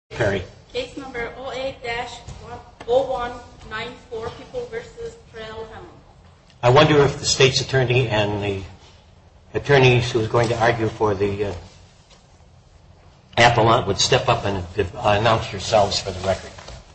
Case number 08-0194, People v. Trayl Hammonds. I wonder if the state's attorney and the attorneys who are going to argue for the appellant would step up and announce yourselves for the record.